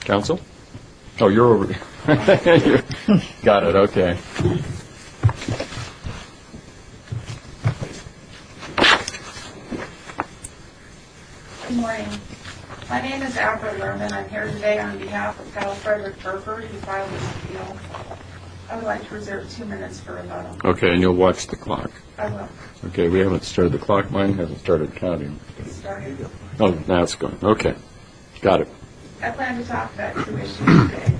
Council? Oh, you're over there. Got it, okay. Good morning. My name is April Lerman. I'm here today on behalf of Cal Frederick Burford, who filed an appeal. I would like to reserve two minutes for rebuttal. Okay, and you'll watch the clock. I will. Okay, we haven't started the clock. Mine hasn't started counting. It's starting. Oh, now it's going. Okay. Got it. I plan to talk about two issues today.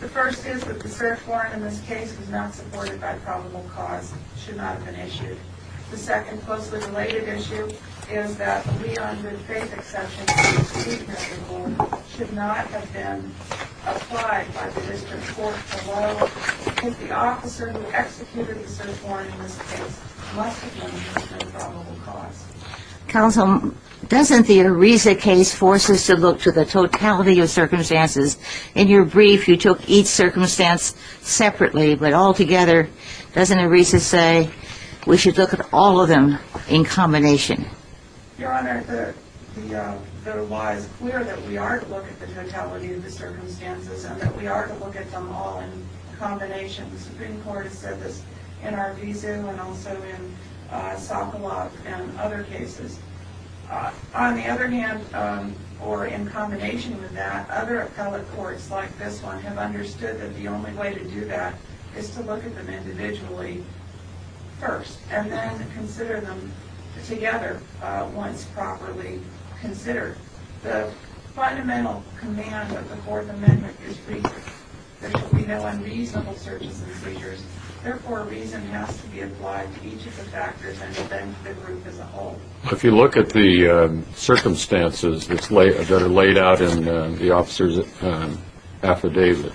The first is that the cert warrant in this case was not supported by probable cause. It should not have been issued. The second, closely related issue, is that the Leon Goodfaith exception to the excusement report should not have been applied by the district court alone. If the officer who executed the cert warrant in this case must have known there was no probable cause. Counsel, doesn't the Ariza case force us to look to the totality of circumstances? In your brief, you took each circumstance separately, but altogether, doesn't Ariza say we should look at all of them in combination? Your Honor, the lie is clear that we are to look at the totality of the circumstances and that we are to look at them all in combination. The Supreme Court has said this in Arvizu and also in Sokolov and other cases. On the other hand, or in combination with that, other appellate courts like this one have understood that the only way to do that is to look at them individually first and then consider them together once properly considered. The fundamental command of the Fourth Amendment is reason. There shall be no unreasonable searches and seizures. Therefore, reason has to be applied to each of the factors and to the group as a whole. If you look at the circumstances that are laid out in the officer's affidavit,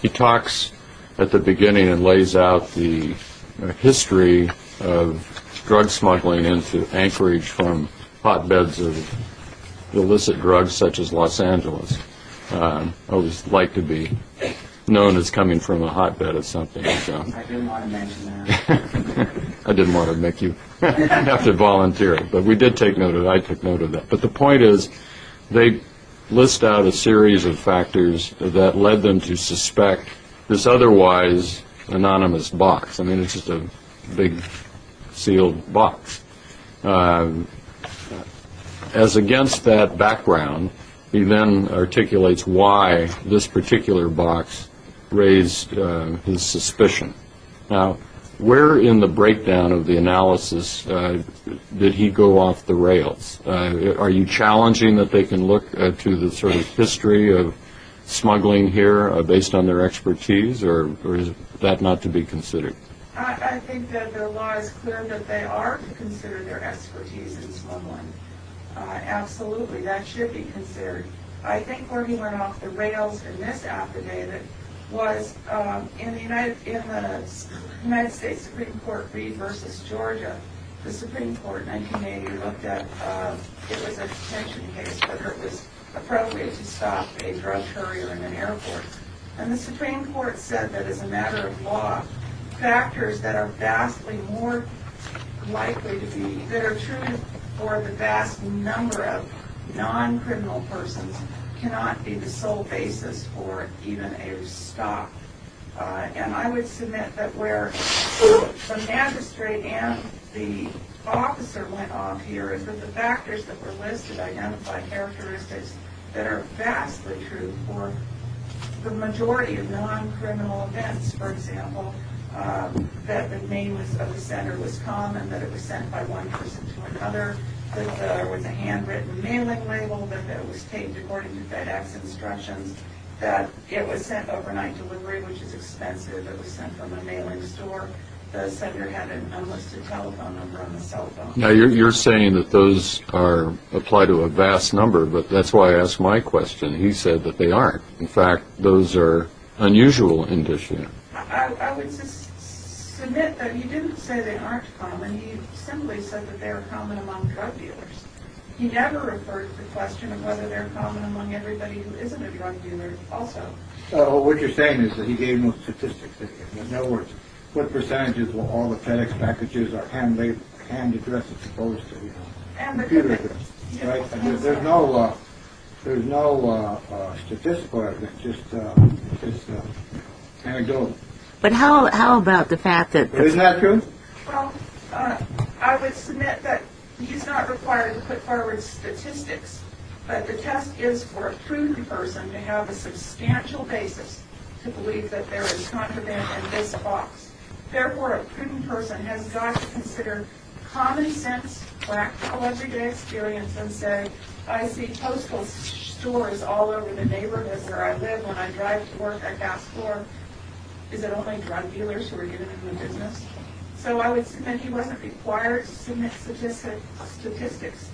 he talks at the beginning and lays out the history of drug smuggling and to anchorage from hotbeds of illicit drugs such as Los Angeles. I always like to be known as coming from a hotbed of something. I didn't want to mention that. I didn't want to make you have to volunteer. But we did take note of that. I took note of that. But the point is they list out a series of factors that led them to suspect this otherwise anonymous box. I mean, it's just a big sealed box. As against that background, he then articulates why this particular box raised his suspicion. Now, where in the breakdown of the analysis did he go off the rails? Are you challenging that they can look to the sort of history of smuggling here based on their expertise, or is that not to be considered? I think that the law is clear that they are to consider their expertise in smuggling. Absolutely, that should be considered. I think where he went off the rails in this affidavit was in the United States Supreme Court read versus Georgia. The Supreme Court in 1980 looked at if it was a detention case whether it was appropriate to stop a drug courier in an airport. And the Supreme Court said that as a matter of law, factors that are vastly more likely to be, that are true for the vast number of non-criminal persons, cannot be the sole basis for even a stop. And I would submit that where the magistrate and the officer went off here is that the factors that were listed identified characteristics that are vastly true for the majority of non-criminal events. For example, that the name of the sender was common, that it was sent by one person to another, that there was a handwritten mailing label, that it was taped according to FedEx instructions, that it was sent overnight delivery, which is expensive. It was sent from a mailing store. The sender had an unlisted telephone number on the cell phone. Now, you're saying that those apply to a vast number, but that's why I asked my question. He said that they aren't. In fact, those are unusual in this unit. I would just submit that he didn't say they aren't common. He simply said that they are common among drug dealers. He never referred to the question of whether they're common among everybody who isn't a drug dealer also. So what you're saying is that he gave no statistics. There's no words. What percentage of all the FedEx packages are hand-addressed as opposed to the computer? There's no statistical evidence. It's just anecdotal. But how about the fact that the- Isn't that true? Well, I would submit that he's not required to put forward statistics, but the test is for a prudent person to have a substantial basis to believe that there is contraband in this box. Therefore, a prudent person has got to consider common sense practical everyday experience and say, I see Postal stores all over the neighborhood where I live when I drive to work at Gas Floor. Is it only drug dealers who are getting into the business? So I would submit he wasn't required to submit statistics,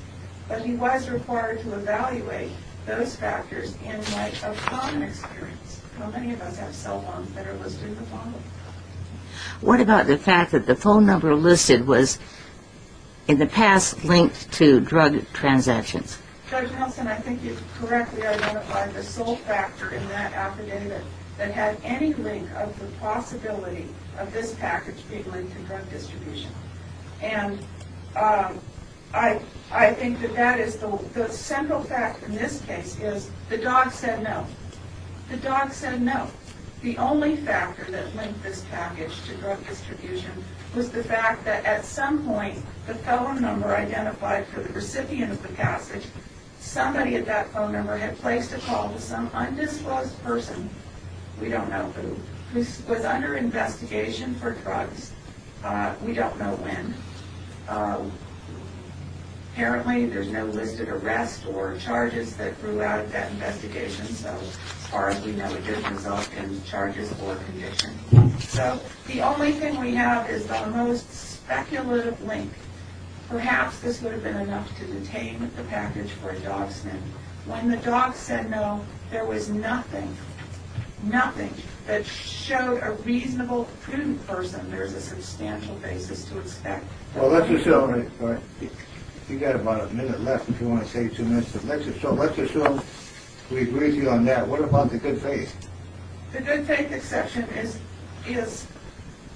but he was required to evaluate those factors in light of common experience. How many of us have cell phones that are listed in the bottom? What about the fact that the phone number listed was in the past linked to drug transactions? Judge Nelson, I think you correctly identified the sole factor in that affidavit that had any link of the possibility of this package being linked to drug distribution. And I think that that is the- The central fact in this case is the dog said no. The dog said no. The only factor that linked this package to drug distribution was the fact that at some point, the phone number identified for the recipient of the passage, somebody at that phone number had placed a call to some undisclosed person, we don't know who, who was under investigation for drugs. We don't know when. Apparently, there's no listed arrest or charges that grew out of that investigation. So as far as we know, it didn't result in charges or conviction. So the only thing we have is the most speculative link. Perhaps this would have been enough to detain the package for a dog sniff. When the dog said no, there was nothing, nothing that showed a reasonable prudent person there's a substantial basis to expect. Well, let's assume- You've got about a minute left if you want to say two minutes. So let's assume we agree with you on that. What about the good faith? The good faith exception is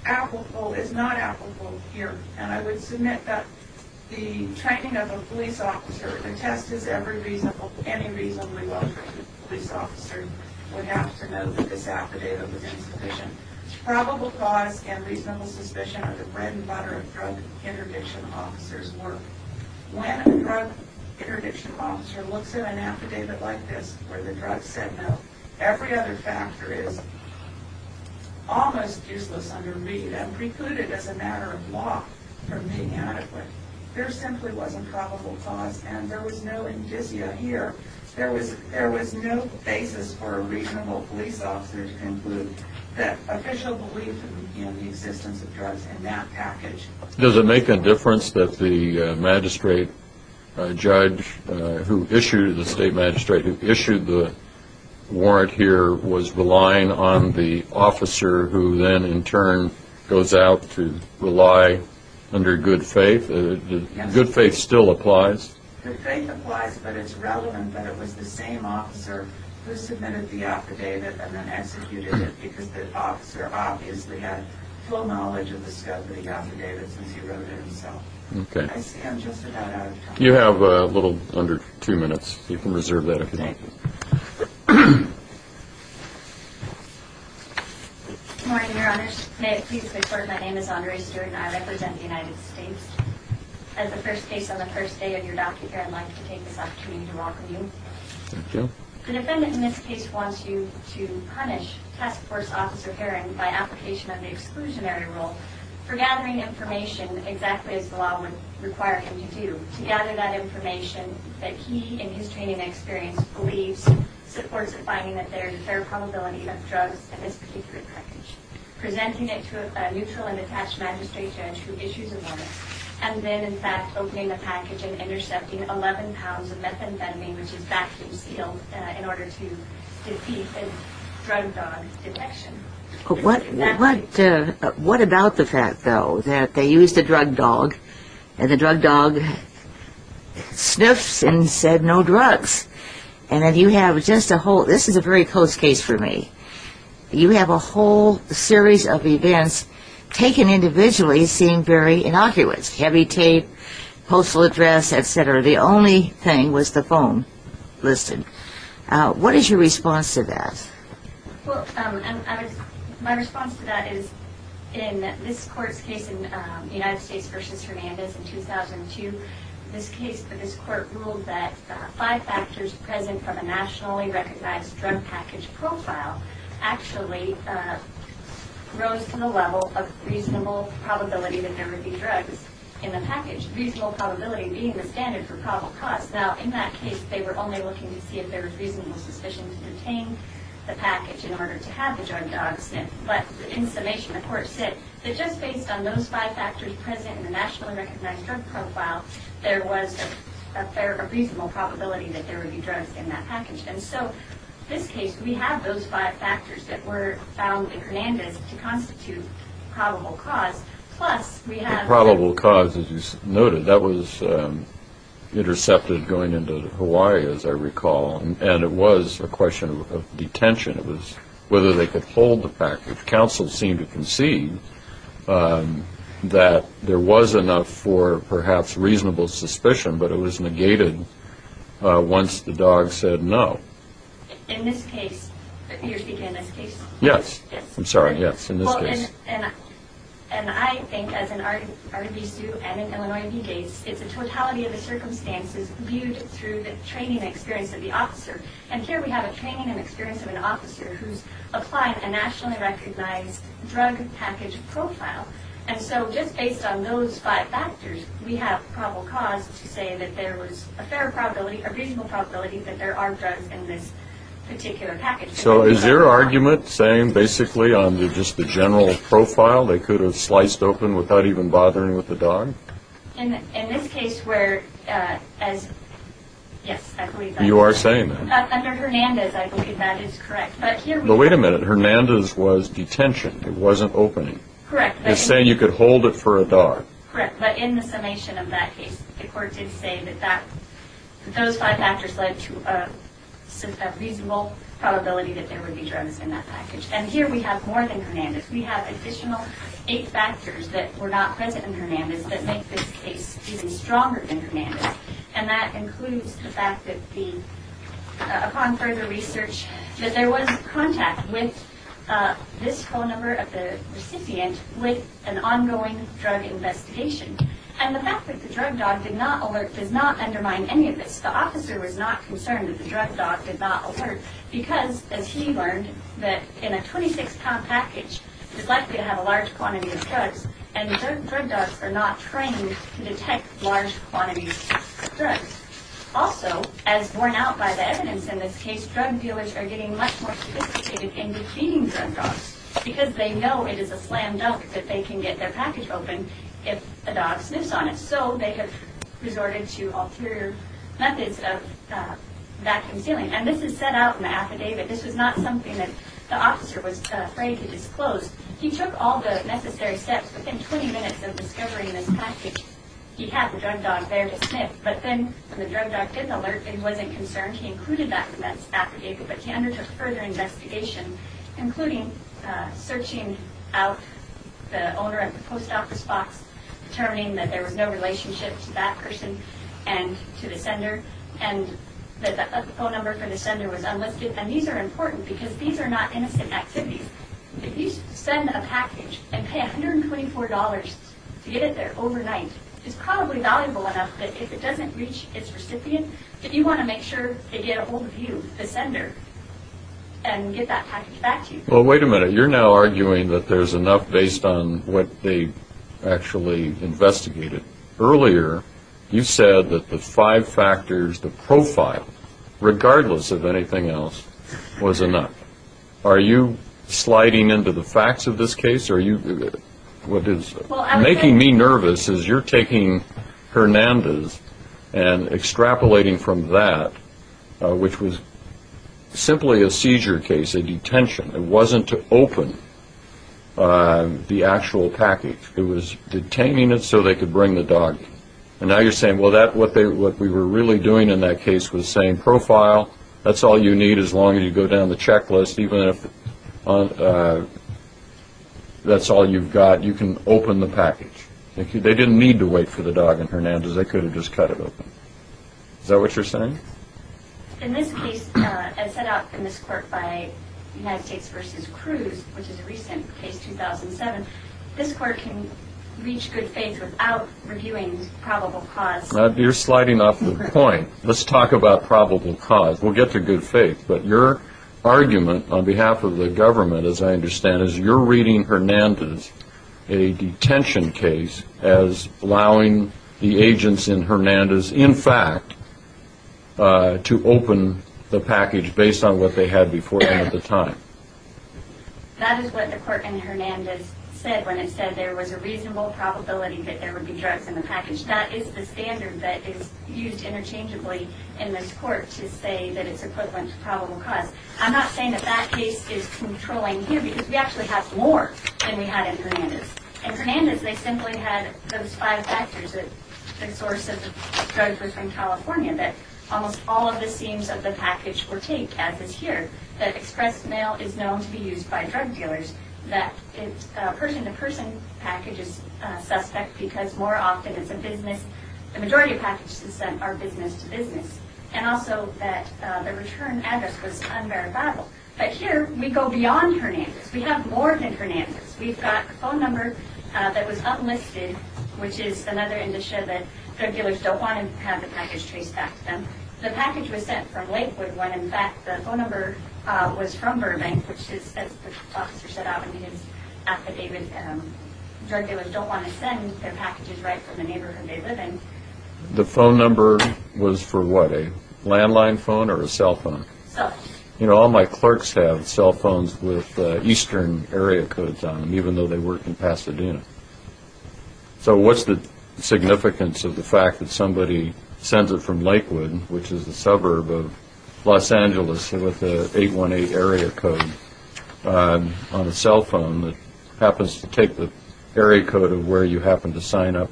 applicable, is not applicable here. And I would submit that the training of a police officer, the test is every reasonable, any reasonably well-trained police officer would have to know that this affidavit was insufficient. It's probable cause and reasonable suspicion are the bread and butter of drug interdiction officers' work. When a drug interdiction officer looks at an affidavit like this, where the drug said no, every other factor is almost useless under read and precluded as a matter of law from being adequate. There simply was a probable cause and there was no indicia here. There was no basis for a reasonable police officer to conclude that official belief in the existence of drugs in that package. Does it make a difference that the magistrate judge who issued, the state magistrate who issued the warrant here was relying on the officer who then in turn goes out to rely under good faith? Good faith still applies? Good faith applies, but it's relevant that it was the same officer who submitted the affidavit and then executed it because the officer obviously had full knowledge of the affidavit since he wrote it himself. I see I'm just about out of time. You have a little under two minutes. You can reserve that if you'd like. Good morning, Your Honors. May it please the Court, my name is Andre Stewart and I represent the United States. As the first case on the first day of your document, I'd like to take this opportunity to welcome you. Thank you. The defendant in this case wants you to punish Task Force Officer Herron by application of the exclusionary rule for gathering information exactly as the law would require him to do, to gather that information that he in his training and experience believes supports the finding that there is a fair probability of drugs in this particular package, presenting it to a neutral and attached magistrate judge who issues a warrant, and then in fact opening the package and intercepting 11 pounds of methamphetamine which is vacuum sealed in order to defeat a drug dog detection. What about the fact, though, that they used a drug dog and the drug dog sniffs and said, no drugs. And then you have just a whole, this is a very close case for me, you have a whole series of events taken individually seem very innocuous, heavy tape, postal address, etc. The only thing was the phone listed. What is your response to that? Well, my response to that is in this court's case in United States v. Hernandez in 2002, this court ruled that five factors present from a nationally recognized drug package profile actually rose to the level of reasonable probability that there would be drugs in the package, reasonable probability being the standard for probable cause. Now, in that case, they were only looking to see if there was reasonable suspicion to detain the package in order to have the drug dog sniffed. But in summation, the court said that just based on those five factors present in the nationally recognized drug profile, there was a reasonable probability that there would be drugs in that package. And so in this case, we have those five factors that were found in Hernandez to constitute probable cause, plus we have... intercepted going into Hawaii, as I recall, and it was a question of detention. It was whether they could hold the package. Counsel seemed to concede that there was enough for perhaps reasonable suspicion, but it was negated once the dog said no. In this case, you're speaking in this case? Yes. I'm sorry, yes, in this case. And I think, as in Ardabisu and in Illinois v. Gates, it's a totality of the circumstances viewed through the training experience of the officer. And here we have a training and experience of an officer who's applying a nationally recognized drug package profile. And so just based on those five factors, we have probable cause to say that there was a fair probability, a reasonable probability, that there are drugs in this particular package. So is your argument saying basically on just the general profile they could have sliced open without even bothering with the dog? In this case where, yes, I believe that. You are saying that? Under Hernandez, I believe that is correct. But here we have... But wait a minute. Hernandez was detention. It wasn't opening. Correct. You're saying you could hold it for a dog. Correct. But in the summation of that case, the court did say that those five factors led to a reasonable probability that there would be drugs in that package. And here we have more than Hernandez. We have additional eight factors that were not present in Hernandez that make this case even stronger than Hernandez. And that includes the fact that upon further research, that there was contact with this phone number of the recipient with an ongoing drug investigation. And the fact that the drug dog did not alert does not undermine any of this. The officer was not concerned that the drug dog did not alert because, as he learned, that in a 26-pound package, it's likely to have a large quantity of drugs, and drug dogs are not trained to detect large quantities of drugs. Also, as borne out by the evidence in this case, drug dealers are getting much more sophisticated in defeating drug dogs because they know it is a slam dunk that they can get their package open if a dog sniffs on it. So they have resorted to ulterior methods of vacuum sealing. And this is set out in the affidavit. This was not something that the officer was afraid to disclose. He took all the necessary steps within 20 minutes of discovering this package. He had the drug dog there to sniff. But then when the drug dog did alert and wasn't concerned, he included that in that affidavit. But he undertook further investigation, including searching out the owner of the post office box, determining that there was no relationship to that person and to the sender, and that the phone number for the sender was unlisted. And these are important because these are not innocent activities. If you send a package and pay $124 to get it there overnight, it's probably valuable enough that if it doesn't reach its recipient, that you want to make sure they get a hold of you, the sender, and get that package back to you. Well, wait a minute. You're now arguing that there's enough based on what they actually investigated. Earlier you said that the five factors, the profile, regardless of anything else, was enough. Are you sliding into the facts of this case? What is making me nervous is you're taking Hernandez and extrapolating from that, which was simply a seizure case, a detention. It wasn't to open the actual package. It was detaining it so they could bring the dog. And now you're saying, well, what we were really doing in that case was saying, That's all you need as long as you go down the checklist. Even if that's all you've got, you can open the package. They didn't need to wait for the dog in Hernandez. They could have just cut it open. Is that what you're saying? In this case, as set up in this court by United States v. Cruz, which is a recent case, 2007, this court can reach good faith without reviewing probable cause. You're sliding off the point. Let's talk about probable cause. We'll get to good faith. But your argument on behalf of the government, as I understand it, is you're reading Hernandez, a detention case, as allowing the agents in Hernandez, in fact, to open the package based on what they had before them at the time. That is what the court in Hernandez said when it said there was a reasonable probability that there would be drugs in the package. That is the standard that is used interchangeably in this court to say that it's equivalent to probable cause. I'm not saying that that case is controlling here because we actually have more than we had in Hernandez. In Hernandez, they simply had those five factors, that the source of the drugs was from California, that almost all of the seams of the package were taped, as is here, that express mail is known to be used by drug dealers, that a person-to-person package is suspect because more often it's a business. The majority of packages sent are business-to-business. And also that the return address was unverifiable. But here we go beyond Hernandez. We have more than Hernandez. We've got a phone number that was unlisted, which is another indicia that drug dealers don't want to have the package traced back to them. The package was sent from Lakewood when, in fact, the phone number was from Burbank, which is, as the professor set out in his affidavit, drug dealers don't want to send their packages right from the neighborhood they live in. The phone number was for what, a landline phone or a cell phone? Cell. You know, all my clerks have cell phones with eastern area codes on them, even though they work in Pasadena. So what's the significance of the fact that somebody sends it from Lakewood, which is a suburb of Los Angeles with an 818 area code on a cell phone that happens to take the area code of where you happen to sign up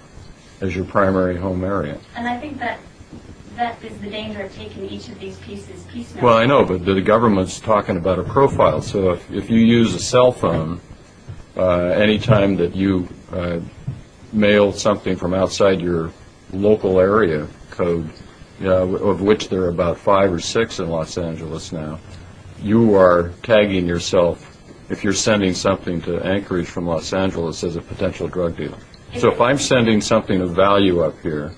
as your primary home area? And I think that is the danger of taking each of these pieces piecemeal. Well, I know, but the government's talking about a profile. So if you use a cell phone any time that you mail something from outside your local area code, of which there are about five or six in Los Angeles now, you are tagging yourself if you're sending something to Anchorage from Los Angeles as a potential drug dealer. So if I'm sending something of value up here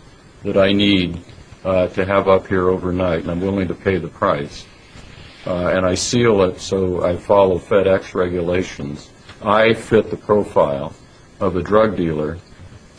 that I need to have up here overnight and I'm willing to pay the price and I seal it so I follow FedEx regulations, I fit the profile of a drug dealer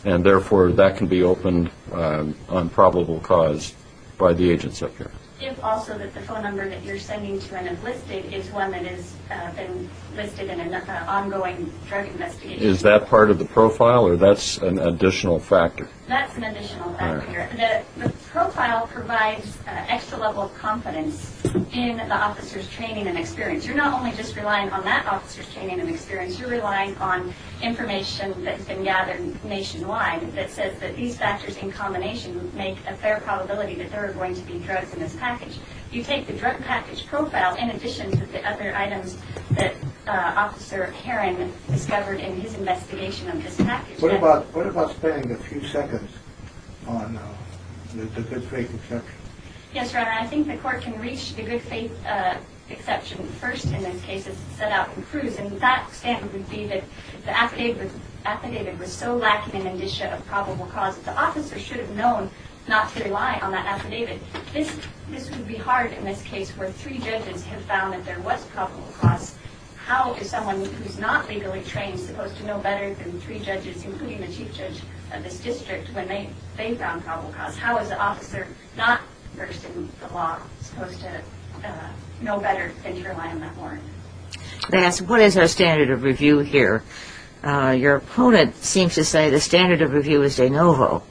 and, therefore, that can be opened on probable cause by the agents up here. If also that the phone number that you're sending to and have listed is one that has been listed in an ongoing drug investigation. Is that part of the profile or that's an additional factor? That's an additional factor. The profile provides an extra level of confidence in the officer's training and experience. You're not only just relying on that officer's training and experience, you're relying on information that's been gathered nationwide that says that these factors in combination make a fair probability that there are going to be drugs in this package. You take the drug package profile in addition to the other items What about spending a few seconds on the good faith exception? Yes, Your Honor. I think the court can reach the good faith exception first in this case as it's set out in Cruz. And that standard would be that the affidavit was so lacking in an issue of probable cause that the officer should have known not to rely on that affidavit. This would be hard in this case where three judges have found that there was probable cause. How is someone who's not legally trained supposed to know better than three judges, including the chief judge of this district, when they found probable cause? How is an officer not versed in the law supposed to know better than to rely on that warrant? What is our standard of review here? Your opponent seems to say the standard of review is de novo.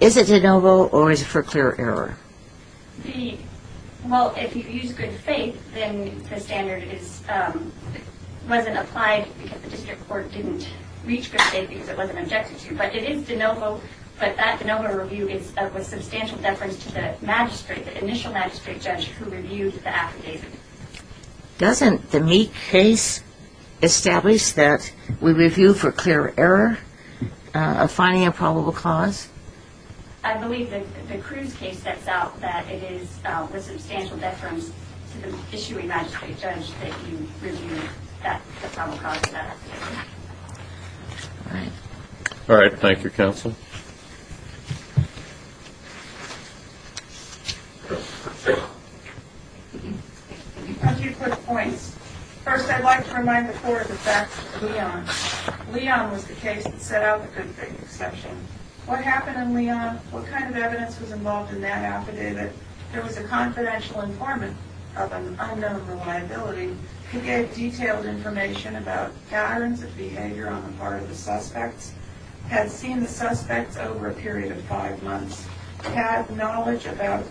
Is it de novo or is it for clear error? Well, if you use good faith, then the standard wasn't applied because the district court didn't reach good faith because it wasn't objected to. But it is de novo, but that de novo review is of substantial deference to the magistrate, the initial magistrate judge who reviewed the affidavit. Doesn't the Meek case establish that we review for clear error of finding a probable cause? I believe the Cruz case sets out that it is with substantial deference to the issuing magistrate judge that you reviewed the probable cause of that affidavit. All right. Thank you, counsel. A few quick points. First, I'd like to remind the court of the facts of Leon. Leon was the case that set out the good faith exception. What happened in Leon? What kind of evidence was involved in that affidavit? There was a confidential informant of an unknown reliability who gave detailed information about patterns of behavior on the part of the suspects, had seen the suspects over a period of five months, had knowledge about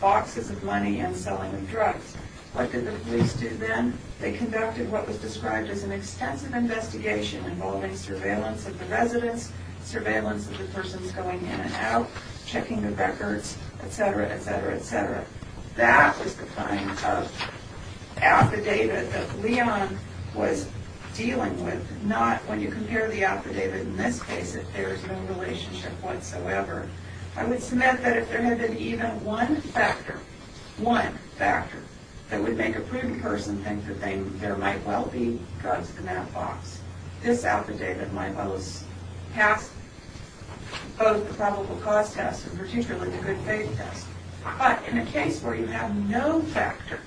boxes of money and selling of drugs. What did the police do then? They conducted what was described as an extensive investigation involving surveillance of the residents, surveillance of the persons going in and out, checking the records, etc., etc., etc. That was the kind of affidavit that Leon was dealing with, not when you compare the affidavit in this case that there is no relationship whatsoever. I would submit that if there had been even one factor, one factor, that would make a proven person think that there might well be drugs in that box, this affidavit might well have passed both the probable cause test and particularly the good faith test. But in a case where you have no factor,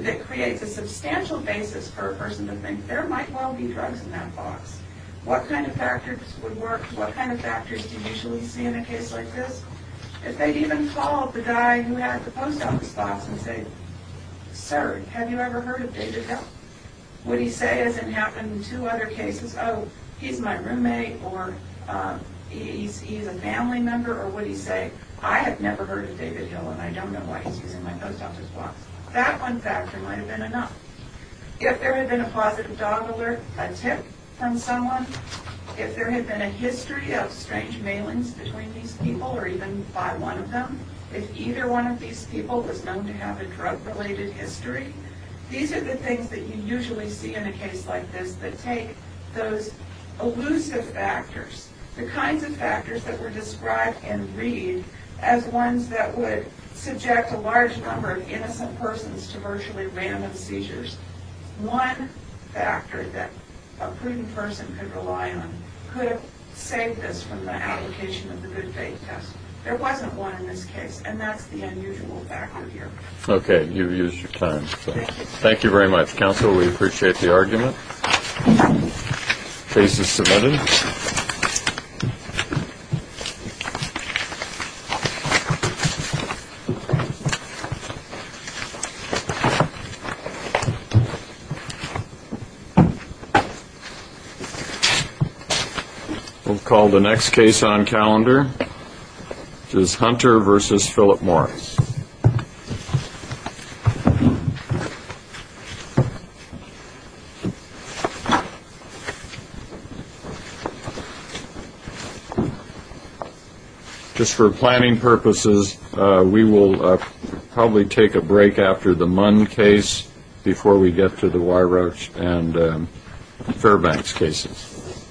it creates a substantial basis for a person to think there might well be drugs in that box. What kind of factors would work? What kind of factors do you usually see in a case like this? If they had even called the guy who had the post office box and said, Sir, have you ever heard of David Hill? Would he say as it happened in two other cases, Oh, he's my roommate or he's a family member, or would he say, I have never heard of David Hill and I don't know why he's using my post office box? That one factor might have been enough. If there had been a positive dog alert, a tip from someone, if there had been a history of strange mailings between these people or even by one of them, if either one of these people was known to have a drug-related history, these are the things that you usually see in a case like this that take those elusive factors, the kinds of factors that were described in Reed as ones that would subject a large number of innocent persons to virtually random seizures. One factor that a prudent person could rely on could have saved us from the application of the good faith test. There wasn't one in this case, and that's the unusual factor here. Okay, you've used your time. Thank you very much, counsel. We appreciate the argument. Case is submitted. We'll call the next case on calendar, which is Hunter v. Philip Morris. Just for planning purposes, we will probably take a break after the Munn case before we get to the Weyroach and Fairbanks cases.